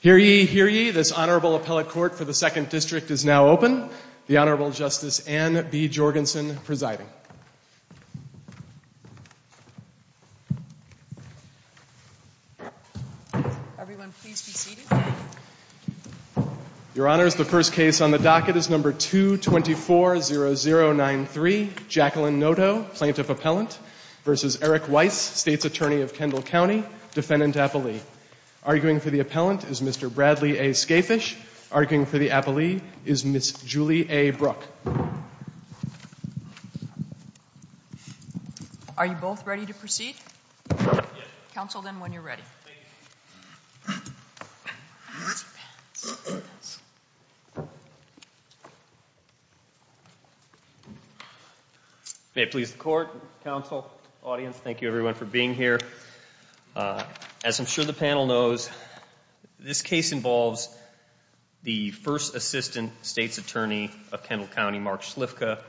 Hear ye, hear ye, this Honorable Appellate Court for the Second District is now open. The Honorable Justice Anne B. Jorgensen presiding. Your Honors, the first case on the docket is No. 2240093, Jacqueline Noto, Plaintiff Appellant v. Eric Weiss, State's Attorney of Kendall County, Defendant Appellee. Arguing for the Appellant is Mr. Bradley A. Scafish. Arguing for the Appellee is Ms. Julie A. Brook. Are you both ready to proceed? Counsel, then, when you're ready. May it please the Court, Counsel, Audience, thank you everyone for being here. As I'm sure the panel knows, this case involves the first Assistant State's Attorney of Kendall County, Mark Shlifka,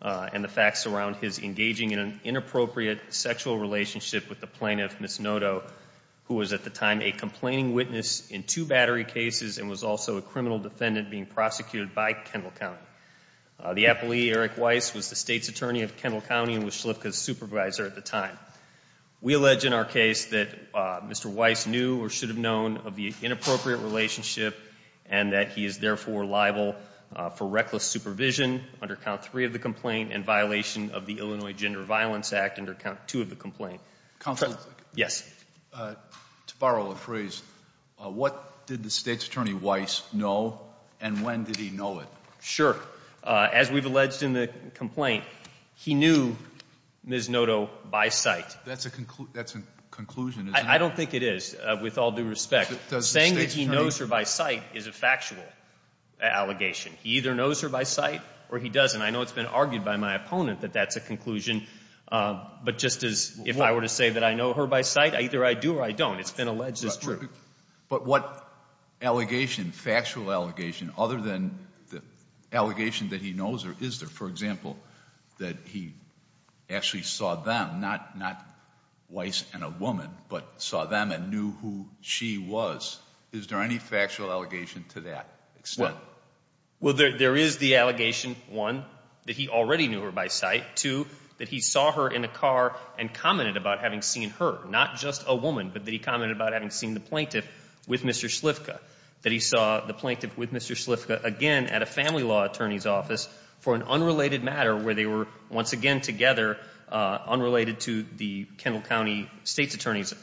and the facts around his engaging in an inappropriate sexual relationship with the Plaintiff, Ms. Noto, who was at the time a complaining witness in two battery cases and was also a criminal defendant being prosecuted by Kendall County. The Appellee, Eric Weiss, was the State's Attorney of Kendall County and was Shlifka's supervisor at the time. We allege in our case that Mr. Weiss knew or should have known of the inappropriate relationship and that he is therefore liable for reckless supervision under count three of the complaint and violation of the Illinois Gender Violence Act under count two of the complaint. Counselor? Yes? To borrow a phrase, what did the State's Attorney Weiss know and when did he know it? Sure. As we've alleged in the complaint, he knew Ms. Noto by sight. That's a conclusion, isn't it? I don't think it is, with all due respect. Saying that he knows her by sight is a factual allegation. He either knows her by sight or he doesn't. I know it's been argued by my opponent that that's a conclusion, but just as if I were to say that I know her by sight, either I do or I don't. It's been alleged as true. But what allegation, factual allegation, other than the allegation that he knows her, is there, for example, that he actually saw them, not Weiss and a woman, but saw them and knew who she was? Is there any factual allegation to that extent? Well, there is the allegation, one, that he already knew her by sight, two, that he saw her in a car and commented about having seen her, not just a woman, but that he commented about having seen the plaintiff with Mr. Slivka, that he saw the plaintiff with Mr. Slivka, again, at a family law attorney's office for an unrelated matter where they were, once again together, unrelated to the Kendall County State's Attorney's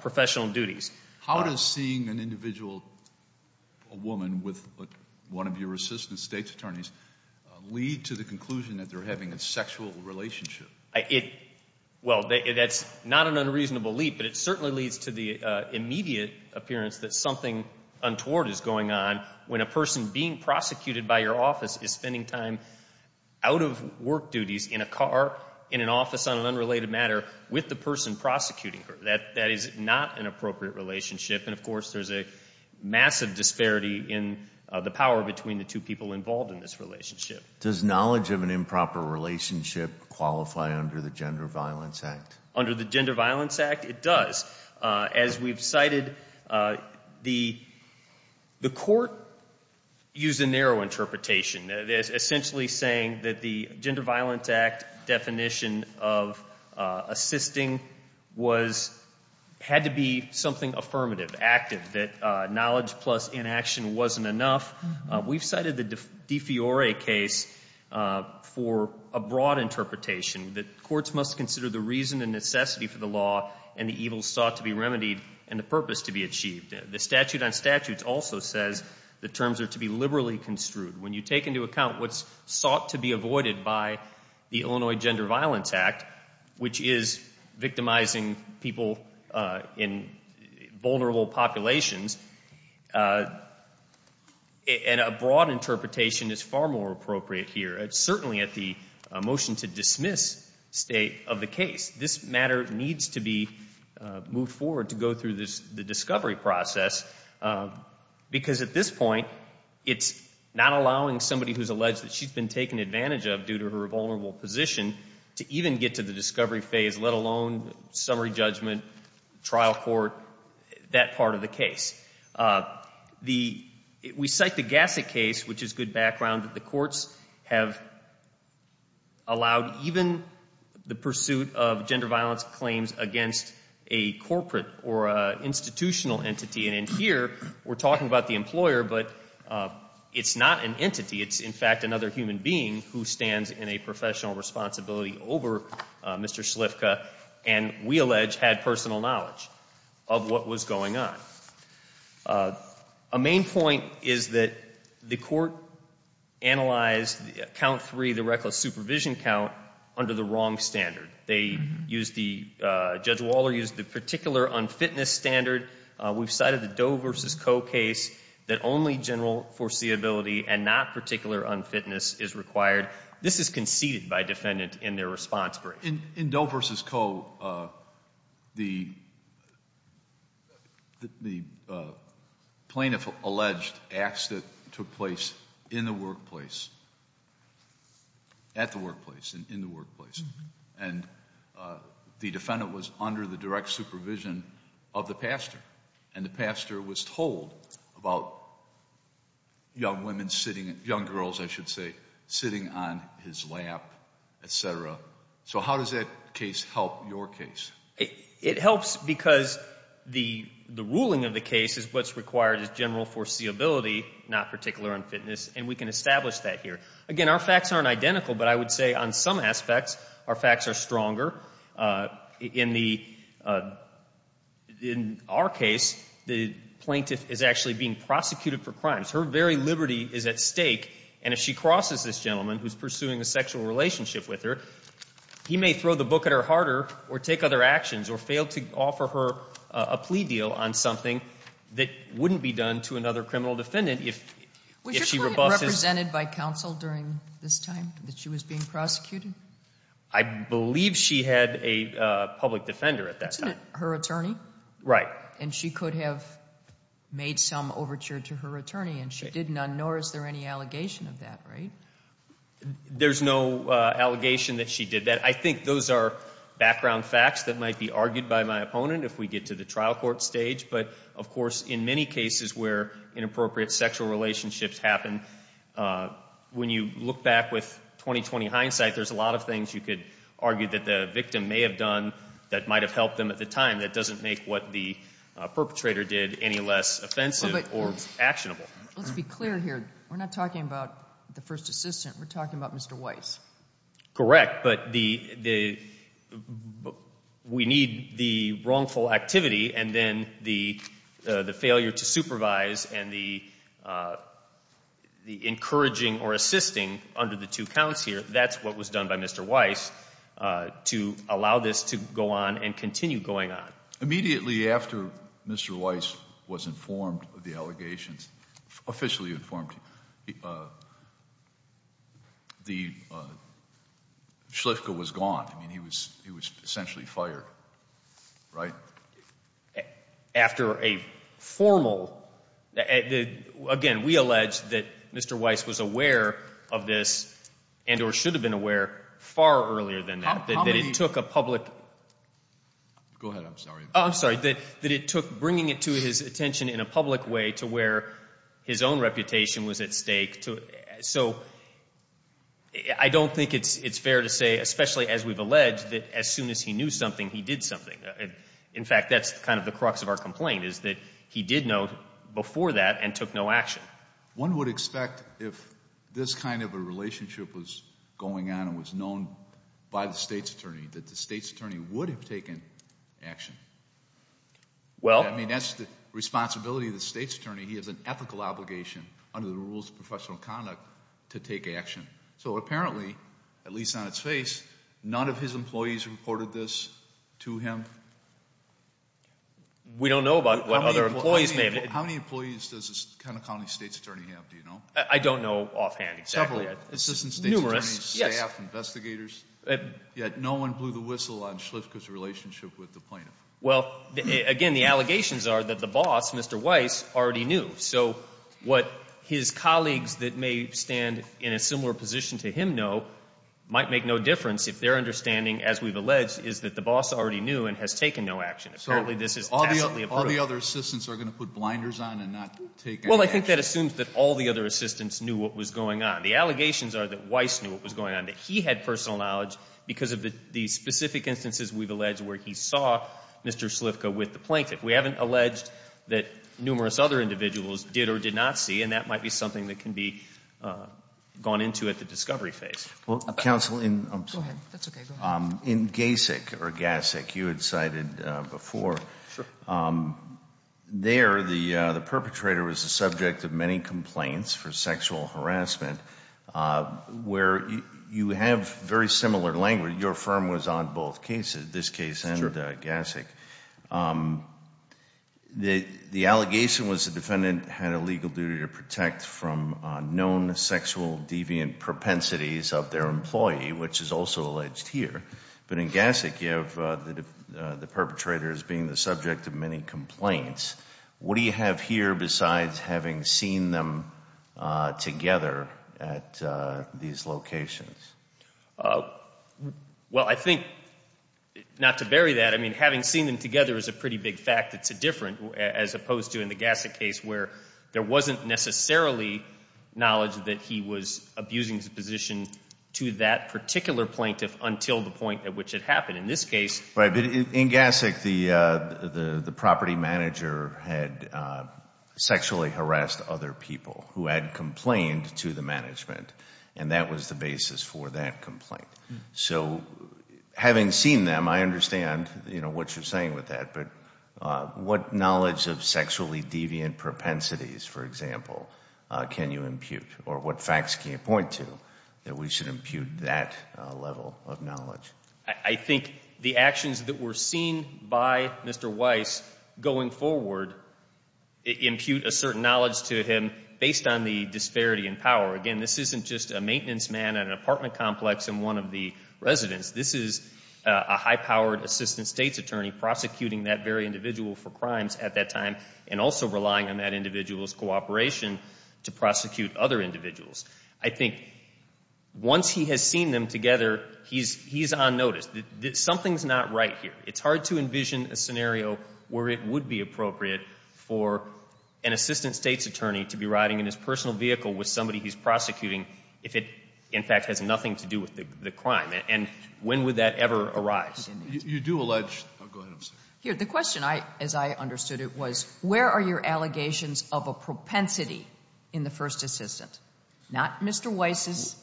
professional duties. How does seeing an individual, a woman, with one of your assistant state's attorneys lead to the conclusion that they're having a sexual relationship? Well, that's not an unreasonable leap, but it certainly leads to the immediate appearance that something untoward is going on when a person being prosecuted by your office is spending time out of work duties in a car, in an office on an unrelated matter, with the person prosecuting her. That is not an appropriate relationship, and of course there's a massive disparity in the power between the two people involved in this relationship. Does knowledge of an improper relationship qualify under the Gender Violence Act? Under the Gender Violence Act, it does. As we've cited, the court used a narrow interpretation, essentially saying that the Gender Violence Act definition of assisting had to be something affirmative, active, that knowledge plus inaction wasn't enough. We've cited the De Fiore case for a broad interpretation, that courts must consider the reason and necessity for the law and the evils sought to be remedied and the purpose to be achieved. The statute on statutes also says the terms are to be liberally construed. When you take into account what's sought to be avoided by the Illinois Gender Violence Act, which is victimizing people in vulnerable populations, a broad interpretation is far more appropriate here, certainly at the motion to dismiss state of the case. This matter needs to be moved forward to go through the discovery process because at this point, it's not allowing somebody who's alleged that she's been taken advantage of due to her vulnerable position to even get to the discovery phase, let alone summary judgment, trial court, that part of the case. We cite the Gasset case, which is good background, that the courts have allowed even the pursuit of gender violence claims against a corporate or an institutional entity. And in here, we're talking about the employer, but it's not an entity. It's, in fact, another human being who stands in a professional responsibility over Mr. Schliffka and we allege had personal knowledge of what was going on. A main point is that the court analyzed count three, the reckless supervision count, under the wrong standard. They used the, Judge Waller used the particular unfitness standard. We've cited the Doe versus Coe case that only general foreseeability and not particular unfitness is required. This is conceded by defendant in their response brief. In Doe versus Coe, the plaintiff alleged acts that took place in the workplace. At the workplace and in the workplace. And the defendant was under the direct supervision of the pastor. And the pastor was told about young women sitting, young girls I should say, sitting on his lap, etc. So how does that case help your case? It helps because the ruling of the case is what's required as general foreseeability, not particular unfitness, and we can establish that here. Again, our facts aren't identical, but I would say on some aspects, our facts are stronger. In the, in our case, the plaintiff is actually being prosecuted for crimes. Her very liberty is at stake, and if she crosses this gentleman who's pursuing a sexual relationship with her, he may throw the book at her harder, or take other actions, or fail to offer her a plea deal on something that wouldn't be done to another criminal defendant if she rebuffs his- Was she presented by counsel during this time that she was being prosecuted? I believe she had a public defender at that time. Her attorney? Right. And she could have made some overture to her attorney, and she did none, nor is there any allegation of that, right? There's no allegation that she did that. I think those are background facts that might be argued by my opponent if we get to the trial court stage. But, of course, in many cases where inappropriate sexual relationships happen, when you look back with 20-20 hindsight, there's a lot of things you could argue that the victim may have done that might have helped them at the time that doesn't make what the perpetrator did any less offensive or actionable. Let's be clear here. We're not talking about the first assistant. We're talking about Mr. Weiss. Correct, but we need the wrongful activity and then the failure to supervise and the encouraging or assisting under the two counts here, that's what was done by Mr. Weiss, to allow this to go on and continue going on. Immediately after Mr. Weiss was informed of the allegations, officially informed, the Schliffka was gone. I mean, he was essentially fired, right? After a formal, again, we allege that Mr. Weiss was aware of this and or should have been aware far earlier than that, that it took a public- Go ahead, I'm sorry. I'm sorry, that it took bringing it to his attention in a public way to where his own reputation was at stake. So I don't think it's fair to say, especially as we've alleged, that as soon as he knew something, he did something. In fact, that's kind of the crux of our complaint is that he did know before that and took no action. One would expect if this kind of a relationship was going on and was known by the state's attorney, that the state's attorney would have taken action. Well- I mean, that's the responsibility of the state's attorney. He has an ethical obligation under the rules of professional conduct to take action. So apparently, at least on its face, none of his employees reported this to him. We don't know about what other employees may have- How many employees does this kind of county state's attorney have, do you know? I don't know offhand, exactly. Numerous, yes. Assistant state's attorney, staff, investigators, yet no one blew the whistle on Schliffka's relationship with the plaintiff. Well, again, the allegations are that the boss, Mr. Weiss, already knew. So what his colleagues that may stand in a similar position to him know, might make no difference if their understanding, as we've alleged, is that the boss already knew and has taken no action. Apparently, this is tacitly approved. All the other assistants are going to put blinders on and not take any action. Well, I think that assumes that all the other assistants knew what was going on. The allegations are that Weiss knew what was going on, that he had personal knowledge because of the specific instances, we've alleged, where he saw Mr. Schliffka with the plaintiff. We haven't alleged that numerous other individuals did or did not see, and that might be something that can be gone into at the discovery phase. Well, counsel, in- Go ahead, that's okay, go ahead. In GASIC, or GASIC, you had cited before. Sure. There, the perpetrator was the subject of many complaints for sexual harassment, where you have very similar language. Your firm was on both cases, this case and GASIC. The allegation was the defendant had a legal duty to protect from known sexual deviant propensities of their employee, which is also alleged here. But in GASIC, you have the perpetrator as being the subject of many complaints. What do you have here besides having seen them together at these locations? Well, I think, not to bury that, I mean, having seen them together is a pretty big fact. It's a different, as opposed to in the GASIC case, where there wasn't necessarily knowledge that he was abusing his position to that particular plaintiff until the point at which it happened. In this case- Right, but in GASIC, the property manager had sexually harassed other people who had complained to the management, and that was the basis for that complaint. So, having seen them, I understand what you're saying with that, but what knowledge of sexually deviant propensities, for example, can you impute? Or what facts can you point to that we should impute that level of knowledge? I think the actions that were seen by Mr. Weiss going forward impute a certain knowledge to him based on the disparity in power. Again, this isn't just a maintenance man at an apartment complex and one of the residents. This is a high-powered assistant state's attorney prosecuting that very individual for crimes at that time, and also relying on that individual's cooperation to prosecute other individuals. I think once he has seen them together, he's on notice. Something's not right here. It's hard to envision a scenario where it would be appropriate for an assistant state's attorney to be riding in his personal vehicle with somebody he's prosecuting if it, in fact, has nothing to do with the crime. And when would that ever arise? You do allege, go ahead. Here, the question, as I understood it, was where are your allegations of a propensity in the first assistant? Not Mr. Weiss's,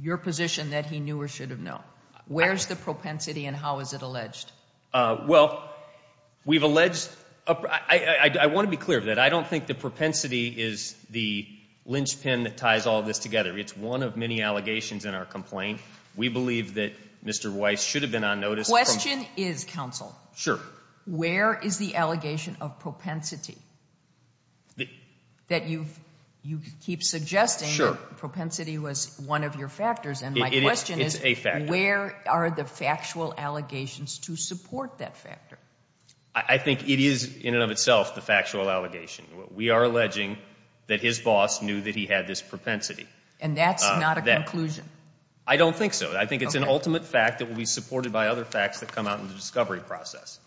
your position that he knew or should have known. Where's the propensity and how is it alleged? Well, we've alleged, I want to be clear of that. I don't think the propensity is the linchpin that ties all this together. It's one of many allegations in our complaint. We believe that Mr. Weiss should have been on notice. Question is, counsel. Sure. Where is the allegation of propensity? That you keep suggesting that propensity was one of your factors. And my question is, where are the factual allegations to support that factor? I think it is, in and of itself, the factual allegation. We are alleging that his boss knew that he had this propensity. And that's not a conclusion? I don't think so. I think it's an ultimate fact that will be supported by other facts that come out in the discovery process.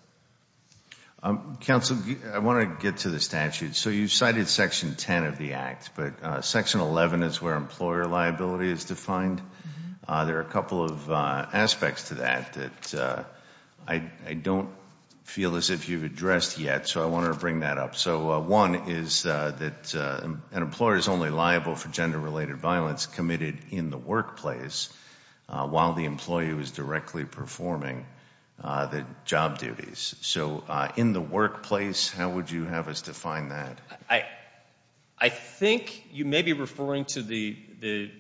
Counsel, I want to get to the statute. So you cited Section 10 of the Act, but Section 11 is where employer liability is defined. There are a couple of aspects to that that I don't feel as if you've addressed yet. So I wanted to bring that up. So one is that an employer is only liable for gender-related violence committed in the workplace while the employee was directly performing the job duties. So in the workplace, how would you have us define that? I think you may be referring to the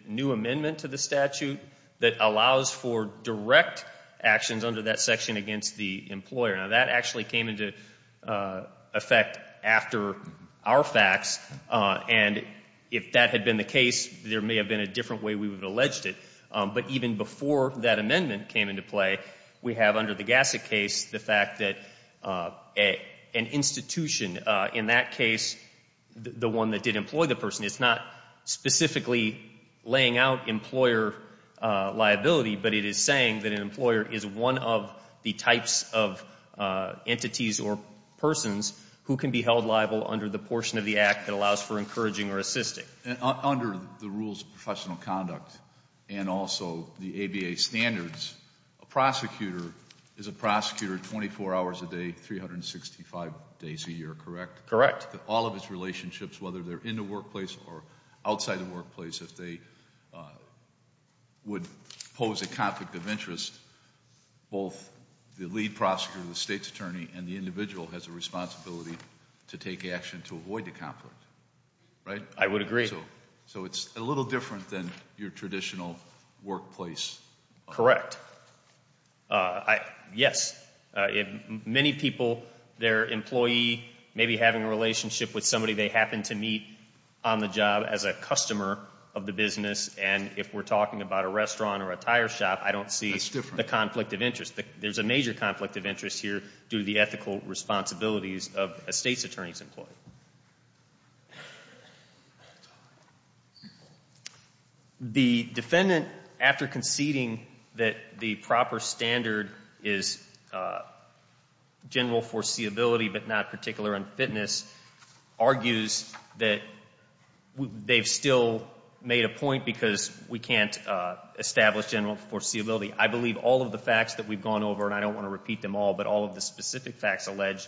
new amendment to the statute that allows for direct actions under that section against the employer. Now, that actually came into effect after our facts. And if that had been the case, there may have been a different way we would have alleged it. But even before that amendment came into play, we have, under the Gassick case, the fact that an institution, in that case, the one that did employ the person, it's not specifically laying out employer liability, but it is saying that an employer is one of the types of entities or persons who can be held liable under the portion of the act that allows for encouraging or assisting. Under the rules of professional conduct and also the ABA standards, a prosecutor is a prosecutor 24 hours a day, 365 days a year, correct? Correct. All of his relationships, whether they're in the workplace or outside the workplace, if they would pose a conflict of interest, both the lead prosecutor, the state's attorney, and the individual has a responsibility to take action to avoid the conflict. Right? I would agree. So it's a little different than your traditional workplace. Correct. Yes. Many people, their employee, maybe having a relationship with somebody they happen to meet on the job as a customer of the business, and if we're talking about a restaurant or a tire shop, I don't see the conflict of interest. There's a major conflict of interest here due to the ethical responsibilities of a state's attorney's employee. The defendant, after conceding that the proper standard is general foreseeability but not particular unfitness, argues that they've still made a point because we can't establish general foreseeability. I believe all of the facts that we've gone over, and I don't want to repeat them all, but all of the specific facts alleged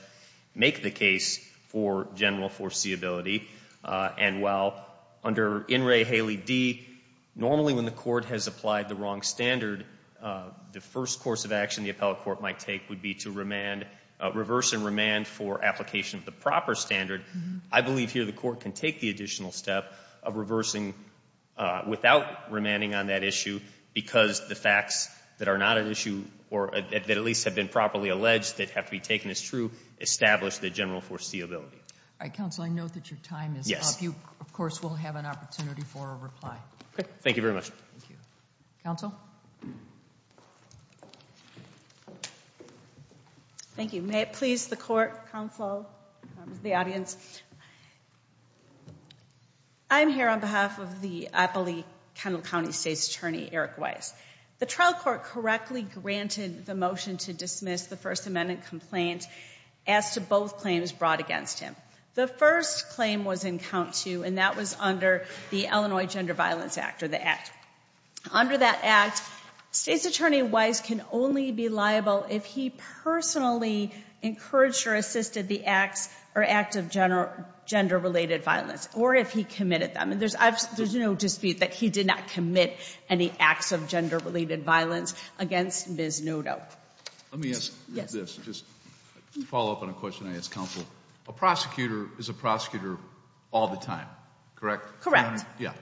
make the case for general foreseeability. And while under In Re Haley D, normally when the court has applied the wrong standard, the first course of action the appellate court might take would be to reverse and remand for application of the proper standard. I believe here the court can take the additional step of reversing without remanding on that issue, because the facts that are not an issue, or that at least have been properly alleged that have to be taken as true, establish the general foreseeability. All right, counsel, I note that your time is up. Yes. Of course, we'll have an opportunity for a reply. Okay, thank you very much. Thank you. Counsel? Thank you. May it please the court, counsel, the audience. I'm here on behalf of the Appley-Kendall County State's Attorney, Eric Weiss. The trial court correctly granted the motion to dismiss the First Amendment complaint as to both claims brought against him. The first claim was in count two, and that was under the Illinois Gender Violence Act, or the Act. Under that Act, State's Attorney Weiss can only be liable if he personally encouraged or assisted the acts or act of gender-related violence, or if he committed them. And there's no dispute that he did not commit any acts of gender-related violence against Ms. Noto. Let me ask you this, just to follow up on a question I asked counsel. A prosecutor is a prosecutor all the time, correct? Correct. Yeah,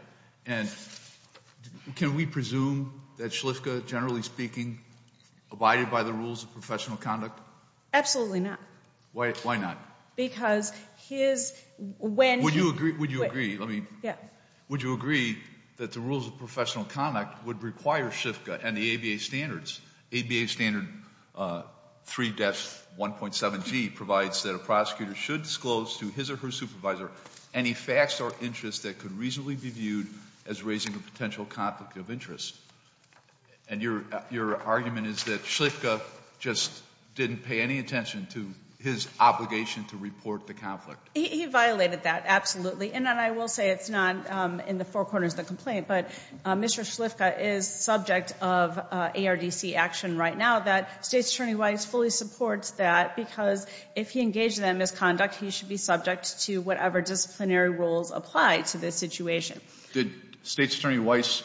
and can we presume that Shliffka, generally speaking, abided by the rules of professional conduct? Absolutely not. Why not? Because his, when he- Would you agree, would you agree, let me- Yeah. Would you agree that the rules of professional conduct would require Shliffka and the ABA standards? ABA standard 3-1.7G provides that a prosecutor should disclose to his or her supervisor any facts or interests that could reasonably be viewed as raising a potential conflict of interest. And your argument is that Shliffka just didn't pay any attention to his obligation to report the conflict. He violated that, absolutely. And I will say it's not in the four corners of the complaint, but Mr. Shliffka is subject of ARDC action right now that State's Attorney Weiss fully supports that. Because if he engaged in that misconduct, he should be subject to whatever disciplinary rules apply to this situation. Did State's Attorney Weiss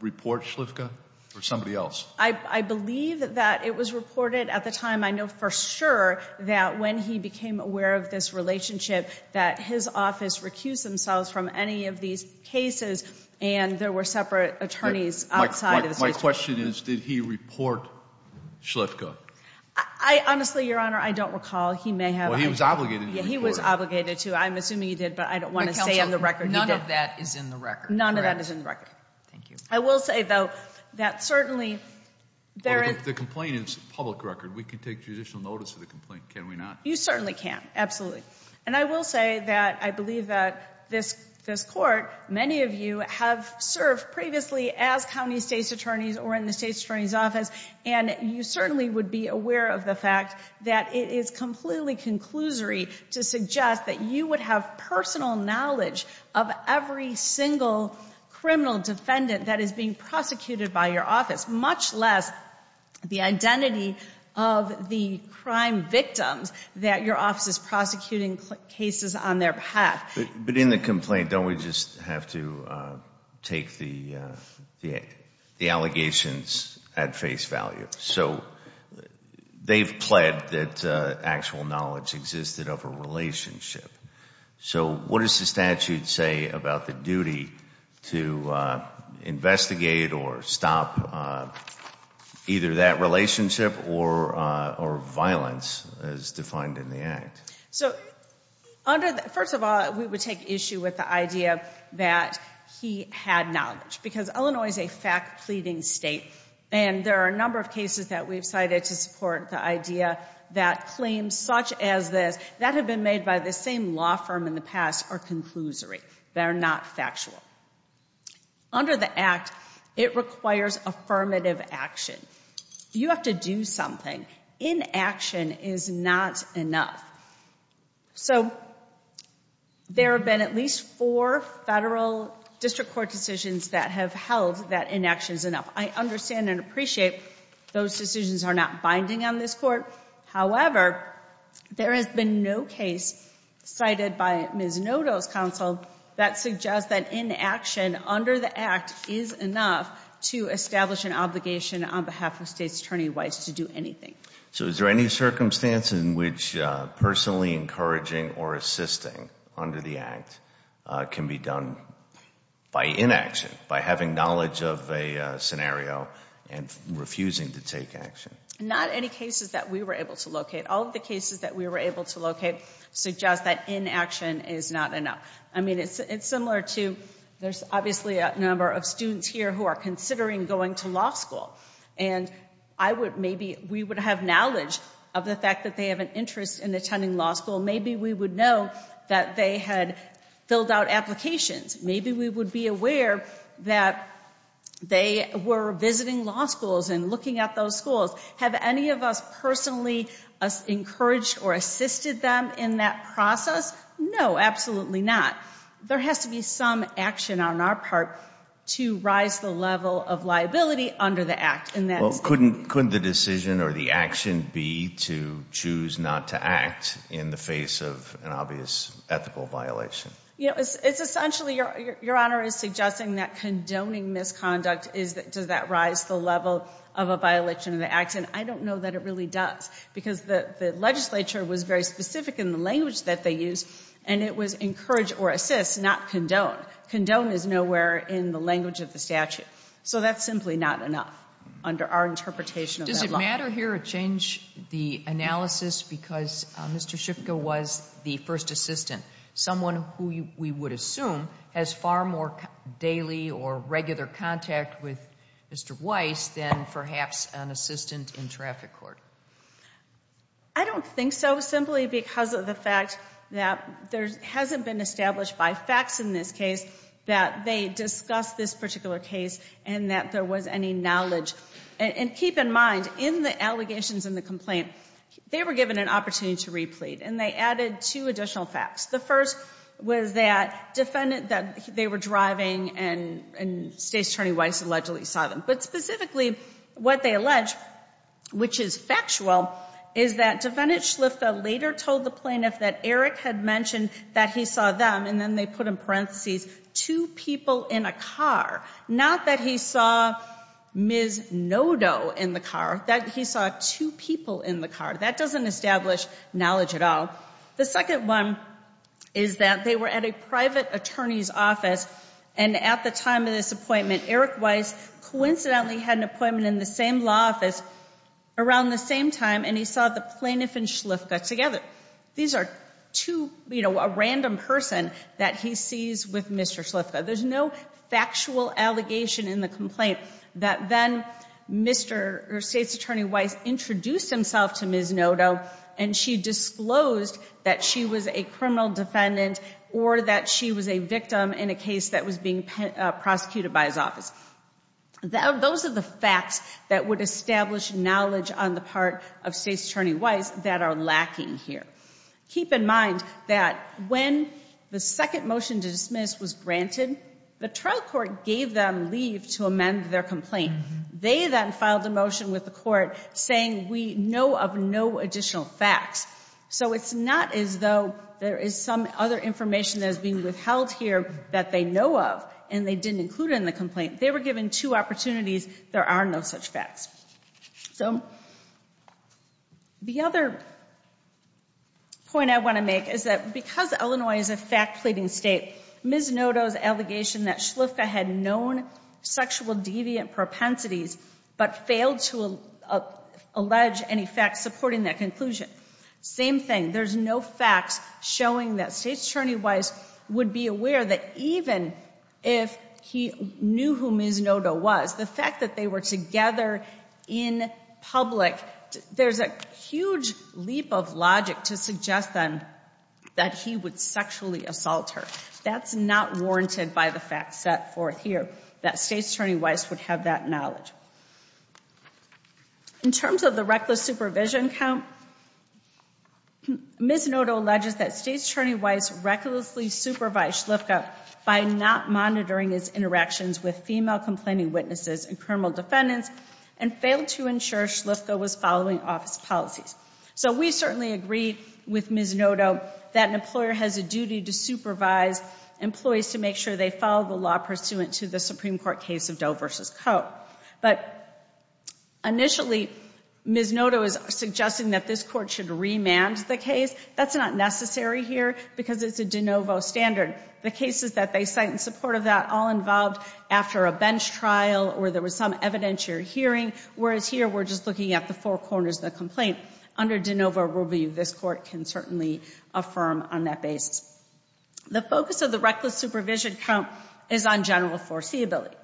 report Shliffka or somebody else? I believe that it was reported at the time. I know for sure that when he became aware of this relationship, that his office recused themselves from any of these cases. And there were separate attorneys outside of the State's Attorney Weiss. My question is, did he report Shliffka? Honestly, Your Honor, I don't recall. He may have- Well, he was obligated to report. Yeah, he was obligated to. I'm assuming he did, but I don't want to say on the record he did. But, counsel, none of that is in the record, correct? None of that is in the record. Thank you. I will say, though, that certainly there is- The complaint is public record. We can take judicial notice of the complaint, can we not? You certainly can, absolutely. And I will say that I believe that this court, many of you have served previously as county state's attorneys or in the state's attorney's office. And you certainly would be aware of the fact that it is completely conclusory to suggest that you would have personal knowledge of every single criminal defendant that is being prosecuted by your office, much less the identity of the crime victims that your office is prosecuting cases on their behalf. But in the complaint, don't we just have to take the allegations at face value? So they've pled that actual knowledge existed of a relationship. So what does the statute say about the duty to investigate or stop either that relationship or violence as defined in the act? So, first of all, we would take issue with the idea that he had knowledge. Because Illinois is a fact-pleading state. And there are a number of cases that we've cited to support the idea that claims such as this that have been made by the same law firm in the past are conclusory. They're not factual. Under the act, it requires affirmative action. You have to do something. Inaction is not enough. So there have been at least four federal district court decisions that have held that inaction is enough. I understand and appreciate those decisions are not binding on this court. However, there has been no case cited by Ms. Noto's counsel that suggests that inaction under the act is enough to establish an obligation on behalf of states attorney-wise to do anything. So is there any circumstance in which personally encouraging or assisting under the act can be done by inaction, by having knowledge of a scenario and refusing to take action? Not any cases that we were able to locate. All of the cases that we were able to locate suggest that inaction is not enough. I mean, it's similar to, there's obviously a number of students here who are considering going to law school. And I would maybe, we would have knowledge of the fact that they have an interest in attending law school. Maybe we would know that they had filled out applications. Maybe we would be aware that they were visiting law schools and looking at those schools. Have any of us personally encouraged or assisted them in that process? No, absolutely not. There has to be some action on our part to rise the level of liability under the act. And that's- Couldn't the decision or the action be to choose not to act in the face of an obvious ethical violation? You know, it's essentially, Your Honor is suggesting that condoning misconduct is, does that rise the level of a violation of the act? And I don't know that it really does. Because the legislature was very specific in the language that they used. And it was encourage or assist, not condone. Condone is nowhere in the language of the statute. So that's simply not enough under our interpretation of that law. Did the matter here change the analysis because Mr. Shipka was the first assistant? Someone who we would assume has far more daily or regular contact with Mr. Weiss than perhaps an assistant in traffic court. I don't think so, simply because of the fact that there hasn't been established by facts in this case. That they discussed this particular case and that there was any knowledge. And keep in mind, in the allegations in the complaint, they were given an opportunity to replete. And they added two additional facts. The first was that they were driving and State's Attorney Weiss allegedly saw them. But specifically, what they allege, which is factual, is that Defendant Schliffa later told the plaintiff that Eric had mentioned that he saw them. And then they put in parentheses, two people in a car. Not that he saw Ms. Nodo in the car, that he saw two people in the car. That doesn't establish knowledge at all. The second one is that they were at a private attorney's office. And at the time of this appointment, Eric Weiss coincidentally had an appointment in the same law office around the same time and he saw the plaintiff and Schliffa together. These are two, a random person that he sees with Mr. Schliffa. There's no factual allegation in the complaint that then Mr. or State's Attorney Weiss introduced himself to Ms. Nodo. And she disclosed that she was a criminal defendant or that she was a victim in a case that was being prosecuted by his office. Those are the facts that would establish knowledge on the part of State's Attorney Weiss that are lacking here. Keep in mind that when the second motion to dismiss was granted, the trial court gave them leave to amend their complaint. They then filed a motion with the court saying we know of no additional facts. So it's not as though there is some other information that is being withheld here that they know of and they didn't include in the complaint. They were given two opportunities, there are no such facts. So the other point I want to make is that because Illinois is a fact pleading state, Ms. Nodo's allegation that Schliffa had known sexual deviant propensities, but failed to allege any facts supporting that conclusion. Same thing, there's no facts showing that State's Attorney Weiss would be aware that even if he knew who Ms. Nodo was, the fact that they were together in public, there's a huge leap of logic to suggest then that he would sexually assault her. That's not warranted by the facts set forth here, that State's Attorney Weiss would have that knowledge. In terms of the reckless supervision count, Ms. Nodo alleges that State's Attorney Weiss recklessly supervised Schliffa by not monitoring his interactions with female complaining witnesses and criminal defendants and failed to ensure Schliffa was following office policies. So we certainly agree with Ms. Nodo that an employer has a duty to supervise employees to make sure they follow the law pursuant to the Supreme Court case of Doe v. Coe. But initially, Ms. Nodo is suggesting that this Court should remand the case. That's not necessary here because it's a de novo standard. The cases that they cite in support of that all involved after a bench trial or there was some evidentiary hearing, whereas here we're just looking at the four corners of the complaint. Under de novo rule review, this Court can certainly affirm on that basis. The focus of the reckless supervision count is on general foreseeability.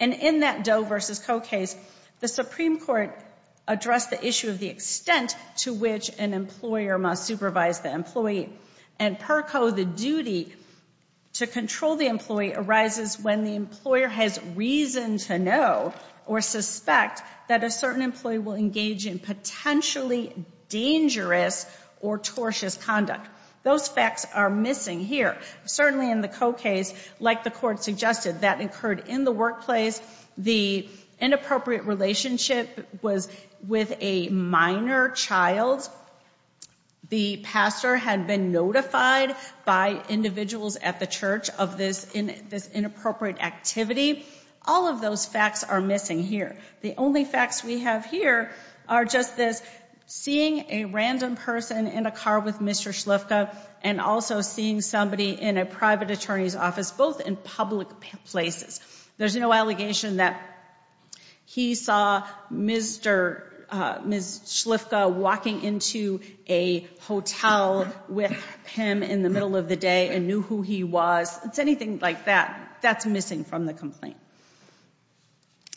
And in that Doe v. Coe case, the Supreme Court addressed the issue of the extent to which an employer must supervise the employee. And per co, the duty to control the employee arises when the employer has reason to know or suspect that a certain employee will engage in potentially dangerous or tortious conduct. Those facts are missing here. Certainly in the Coe case, like the Court suggested, that occurred in the workplace. The inappropriate relationship was with a minor child. The pastor had been notified by individuals at the church of this inappropriate activity. All of those facts are missing here. The only facts we have here are just this seeing a random person in a car with Mr. Schliffka and also seeing somebody in a private attorney's office, both in public places. There's no allegation that he saw Ms. Schliffka walking into a hotel with him in the middle of the day and knew who he was. It's anything like that. That's missing from the complaint.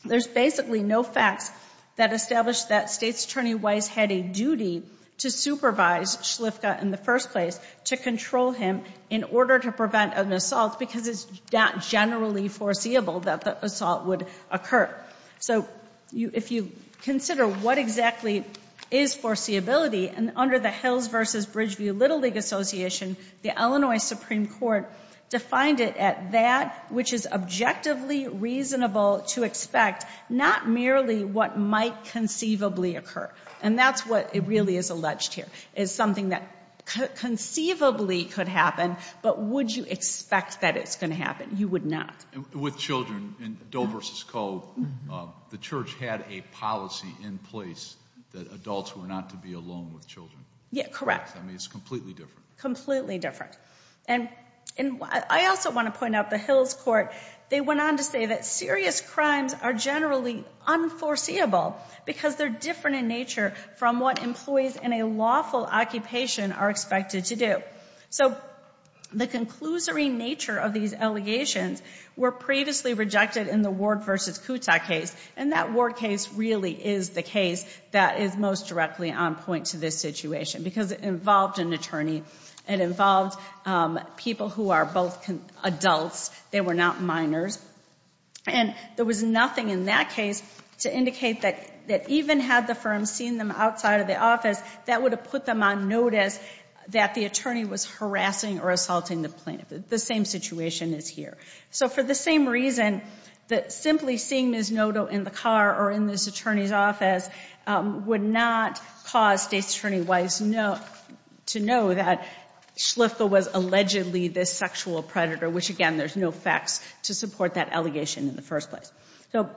There's basically no facts that establish that State's Attorney Weiss had a duty to supervise Schliffka in the first place, to control him in order to prevent an assault because it's not generally foreseeable that the assault would occur. So if you consider what exactly is foreseeability, and under the Hills versus Bridgeview Little League Association, the Illinois Supreme Court defined it at that which is objectively reasonable to expect, not merely what might conceivably occur. And that's what really is alleged here, is something that conceivably could happen, but would you expect that it's going to happen? You would not. With children, in Doe versus Coe, the church had a policy in place that adults were not to be alone with children. Yeah, correct. I mean, it's completely different. Completely different. And I also want to point out the Hills Court, they went on to say that serious crimes are generally unforeseeable because they're different in nature from what employees in a lawful occupation are expected to do. So the conclusory nature of these allegations were previously rejected in the Ward versus Kuta case, and that Ward case really is the case that is most directly on point to this situation because it involved an attorney, it involved people who are both adults, they were not minors. And there was nothing in that case to indicate that even had the firm seen them outside of the office, that would have put them on notice that the attorney was harassing or assaulting the plaintiff. The same situation is here. So for the same reason that simply seeing Ms. Noto in the car or in this attorney's office would not cause State's attorney-wise to know that Schliffka was allegedly this sexual predator, which again, there's no facts to support that allegation in the first place. So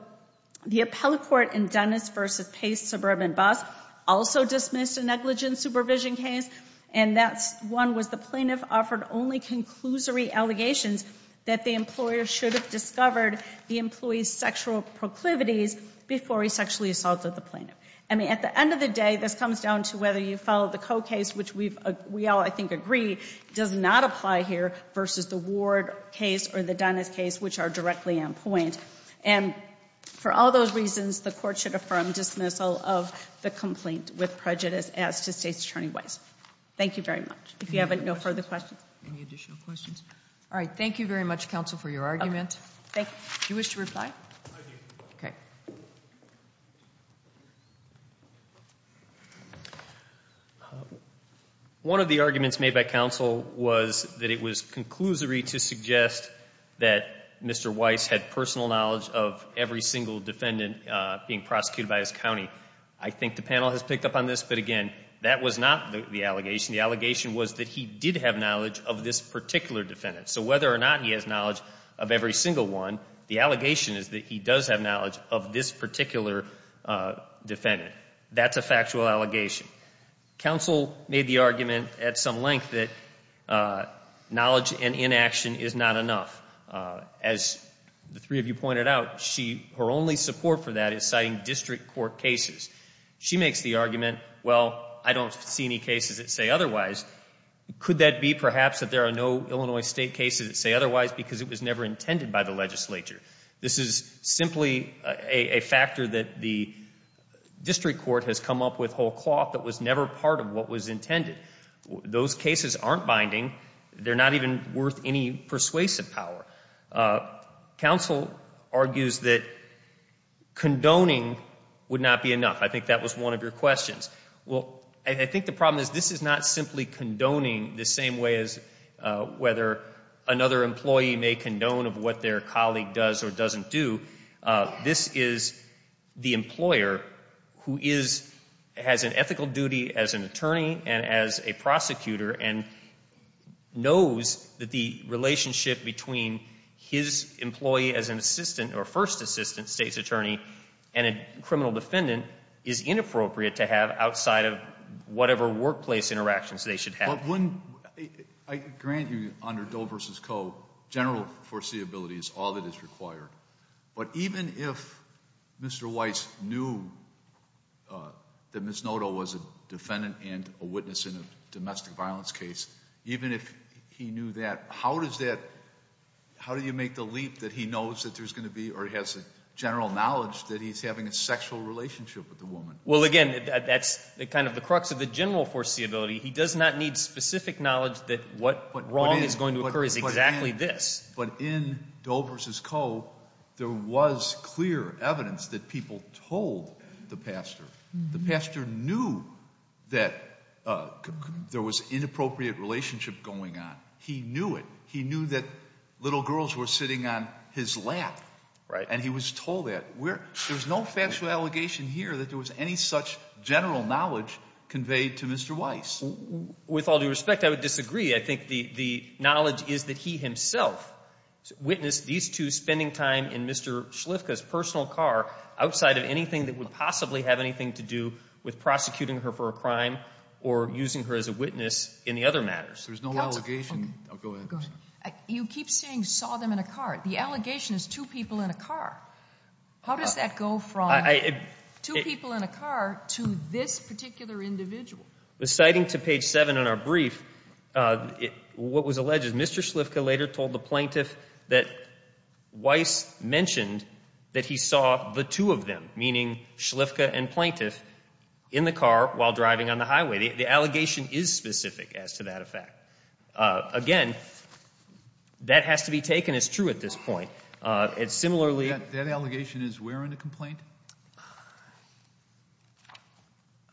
the appellate court in Dennis versus Pace-Suburban Bus also dismissed a negligence supervision case, and that one was the plaintiff offered only conclusory allegations that the employer should have discovered the employee's sexual proclivities before he sexually assaulted the plaintiff. I mean, at the end of the day, this comes down to whether you follow the Coe case, which we all, I think, agree does not apply here versus the Ward case or the Dennis case, which are directly on point. And for all those reasons, the court should affirm dismissal of the complaint with prejudice as to State's attorney-wise. Thank you very much. If you have no further questions. Any additional questions? All right, thank you very much, counsel, for your argument. Thank you. Do you wish to reply? I do. Okay. One of the arguments made by counsel was that it was conclusory to suggest that Mr. Weiss had personal knowledge of every single defendant being prosecuted by his county. I think the panel has picked up on this, but again, that was not the allegation. The allegation was that he did have knowledge of this particular defendant. So whether or not he has knowledge of every single one, the allegation is that he does have knowledge of this particular defendant. That's a factual allegation. Counsel made the argument at some length that knowledge and inaction is not enough. As the three of you pointed out, her only support for that is citing district court cases. She makes the argument, well, I don't see any cases that say otherwise. Could that be perhaps that there are no Illinois State cases that say otherwise because it was never intended by the legislature? This is simply a factor that the district court has come up with whole cloth that was never part of what was intended. Those cases aren't binding. They're not even worth any persuasive power. Counsel argues that condoning would not be enough. I think that was one of your questions. Well, I think the problem is this is not simply condoning the same way as whether another employee may condone of what their colleague does or doesn't do. This is the employer who has an ethical duty as an attorney and as a prosecutor and knows that the relationship between his employee as an assistant or first assistant State's attorney and a criminal defendant is inappropriate to have outside of whatever workplace interactions they should have. I grant you under Doe versus Coe, general foreseeability is all that is required. But even if Mr. Weiss knew that Ms. Noto was a defendant and a witness in a domestic violence case, even if he knew that, how does that, how do you make the leap that he knows that there's going to be or has a general knowledge that he's having a sexual relationship with the woman? Well, again, that's kind of the crux of the general foreseeability. He does not need specific knowledge that what wrong is going to occur is exactly this. But in Doe versus Coe, there was clear evidence that people told the pastor. The pastor knew that there was inappropriate relationship going on. He knew it. He knew that little girls were sitting on his lap. Right. And he was told that. There's no factual allegation here that there was any such general knowledge conveyed to Mr. Weiss. With all due respect, I would disagree. I think the knowledge is that he himself witnessed these two spending time in Mr. Schliffka's personal car outside of anything that would possibly have anything to do with prosecuting her for a crime or using her as a witness in the other matters. There's no allegation. Go ahead. You keep saying saw them in a car. The allegation is two people in a car. How does that go from two people in a car to this particular individual? Citing to page seven in our brief, what was alleged is Mr. Schliffka later told the plaintiff that Weiss mentioned that he saw the two of them, meaning Schliffka and plaintiff, in the car while driving on the highway. The allegation is specific as to that effect. Again, that has to be taken as true at this point. It's similarly. That allegation is where in the complaint?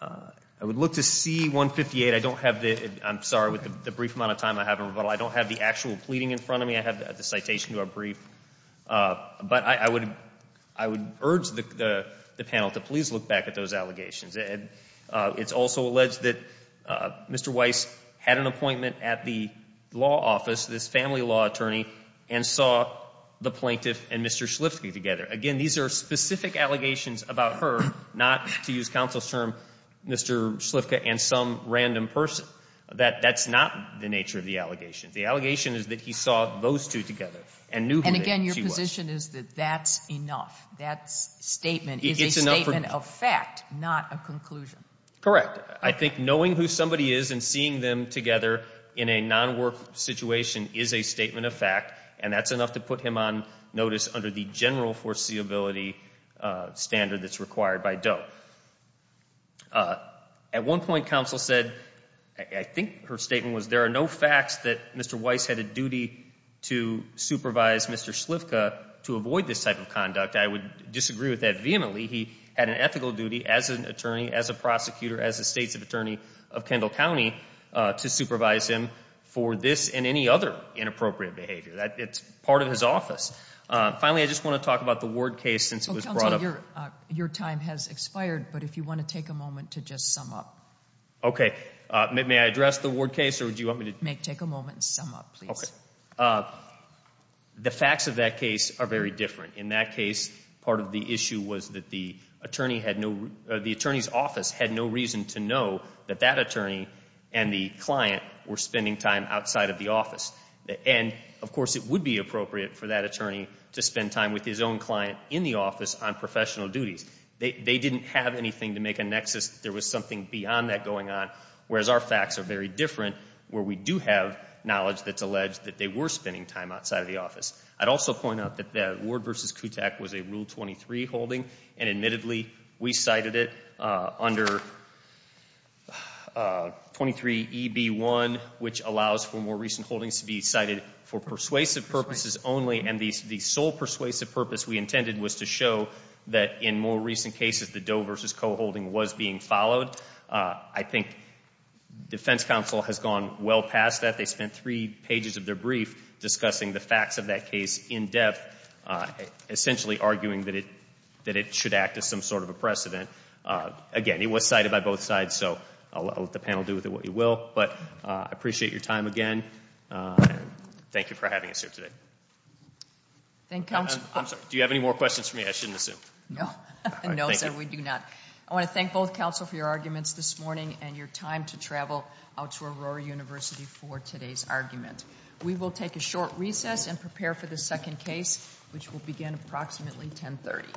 I would look to C-158. I don't have the, I'm sorry, with the brief amount of time I have in rebuttal, I don't have the actual pleading in front of me. I have the citation to our brief. But I would urge the panel to please look back at those allegations. It's also alleged that Mr. Weiss had an appointment at the law office, this family law attorney, and saw the plaintiff and Mr. Schliffka together. Again, these are specific allegations. The allegations about her, not to use counsel's term, Mr. Schliffka and some random person. That's not the nature of the allegations. The allegation is that he saw those two together and knew who she was. And again, your position is that that's enough. That statement is a statement of fact, not a conclusion. Correct. I think knowing who somebody is and seeing them together in a non-work situation is a statement of fact. And that's enough to put him on notice under the general foreseeability standard that's required by DOE. At one point, counsel said, I think her statement was, there are no facts that Mr. Weiss had a duty to supervise Mr. Schliffka to avoid this type of conduct. I would disagree with that vehemently. He had an ethical duty as an attorney, as a prosecutor, as a state's attorney of Kendall County, to supervise him for this and any other inappropriate behavior. It's part of his office. Finally, I just want to talk about the Ward case since it was brought up. Your time has expired, but if you want to take a moment to just sum up. Okay, may I address the Ward case, or do you want me to? May take a moment to sum up, please. The facts of that case are very different. In that case, part of the issue was that the attorney's office had no reason to know that that attorney and the client were spending time outside of the office. And, of course, it would be appropriate for that attorney to spend time with his own client in the office on professional duties. They didn't have anything to make a nexus. There was something beyond that going on, whereas our facts are very different, where we do have knowledge that's alleged that they were spending time outside of the office. I'd also point out that the Ward versus Kutak was a Rule 23 holding, and admittedly, we cited it under 23EB1, which allows for more recent holdings to be cited for persuasive purposes only. And the sole persuasive purpose we intended was to show that in more recent cases, the Doe versus Coe holding was being followed. I think defense counsel has gone well past that. They spent three pages of their brief discussing the facts of that case in depth, essentially arguing that it should act as some sort of a precedent. Again, it was cited by both sides, so I'll let the panel do with it what you will. But I appreciate your time again, and thank you for having us here today. I'm sorry, do you have any more questions for me? I shouldn't assume. No, sir, we do not. I want to thank both counsel for your arguments this morning, and your time to travel out to Aurora University for today's argument. We will take a short recess and prepare for the second case, which will begin approximately 1030.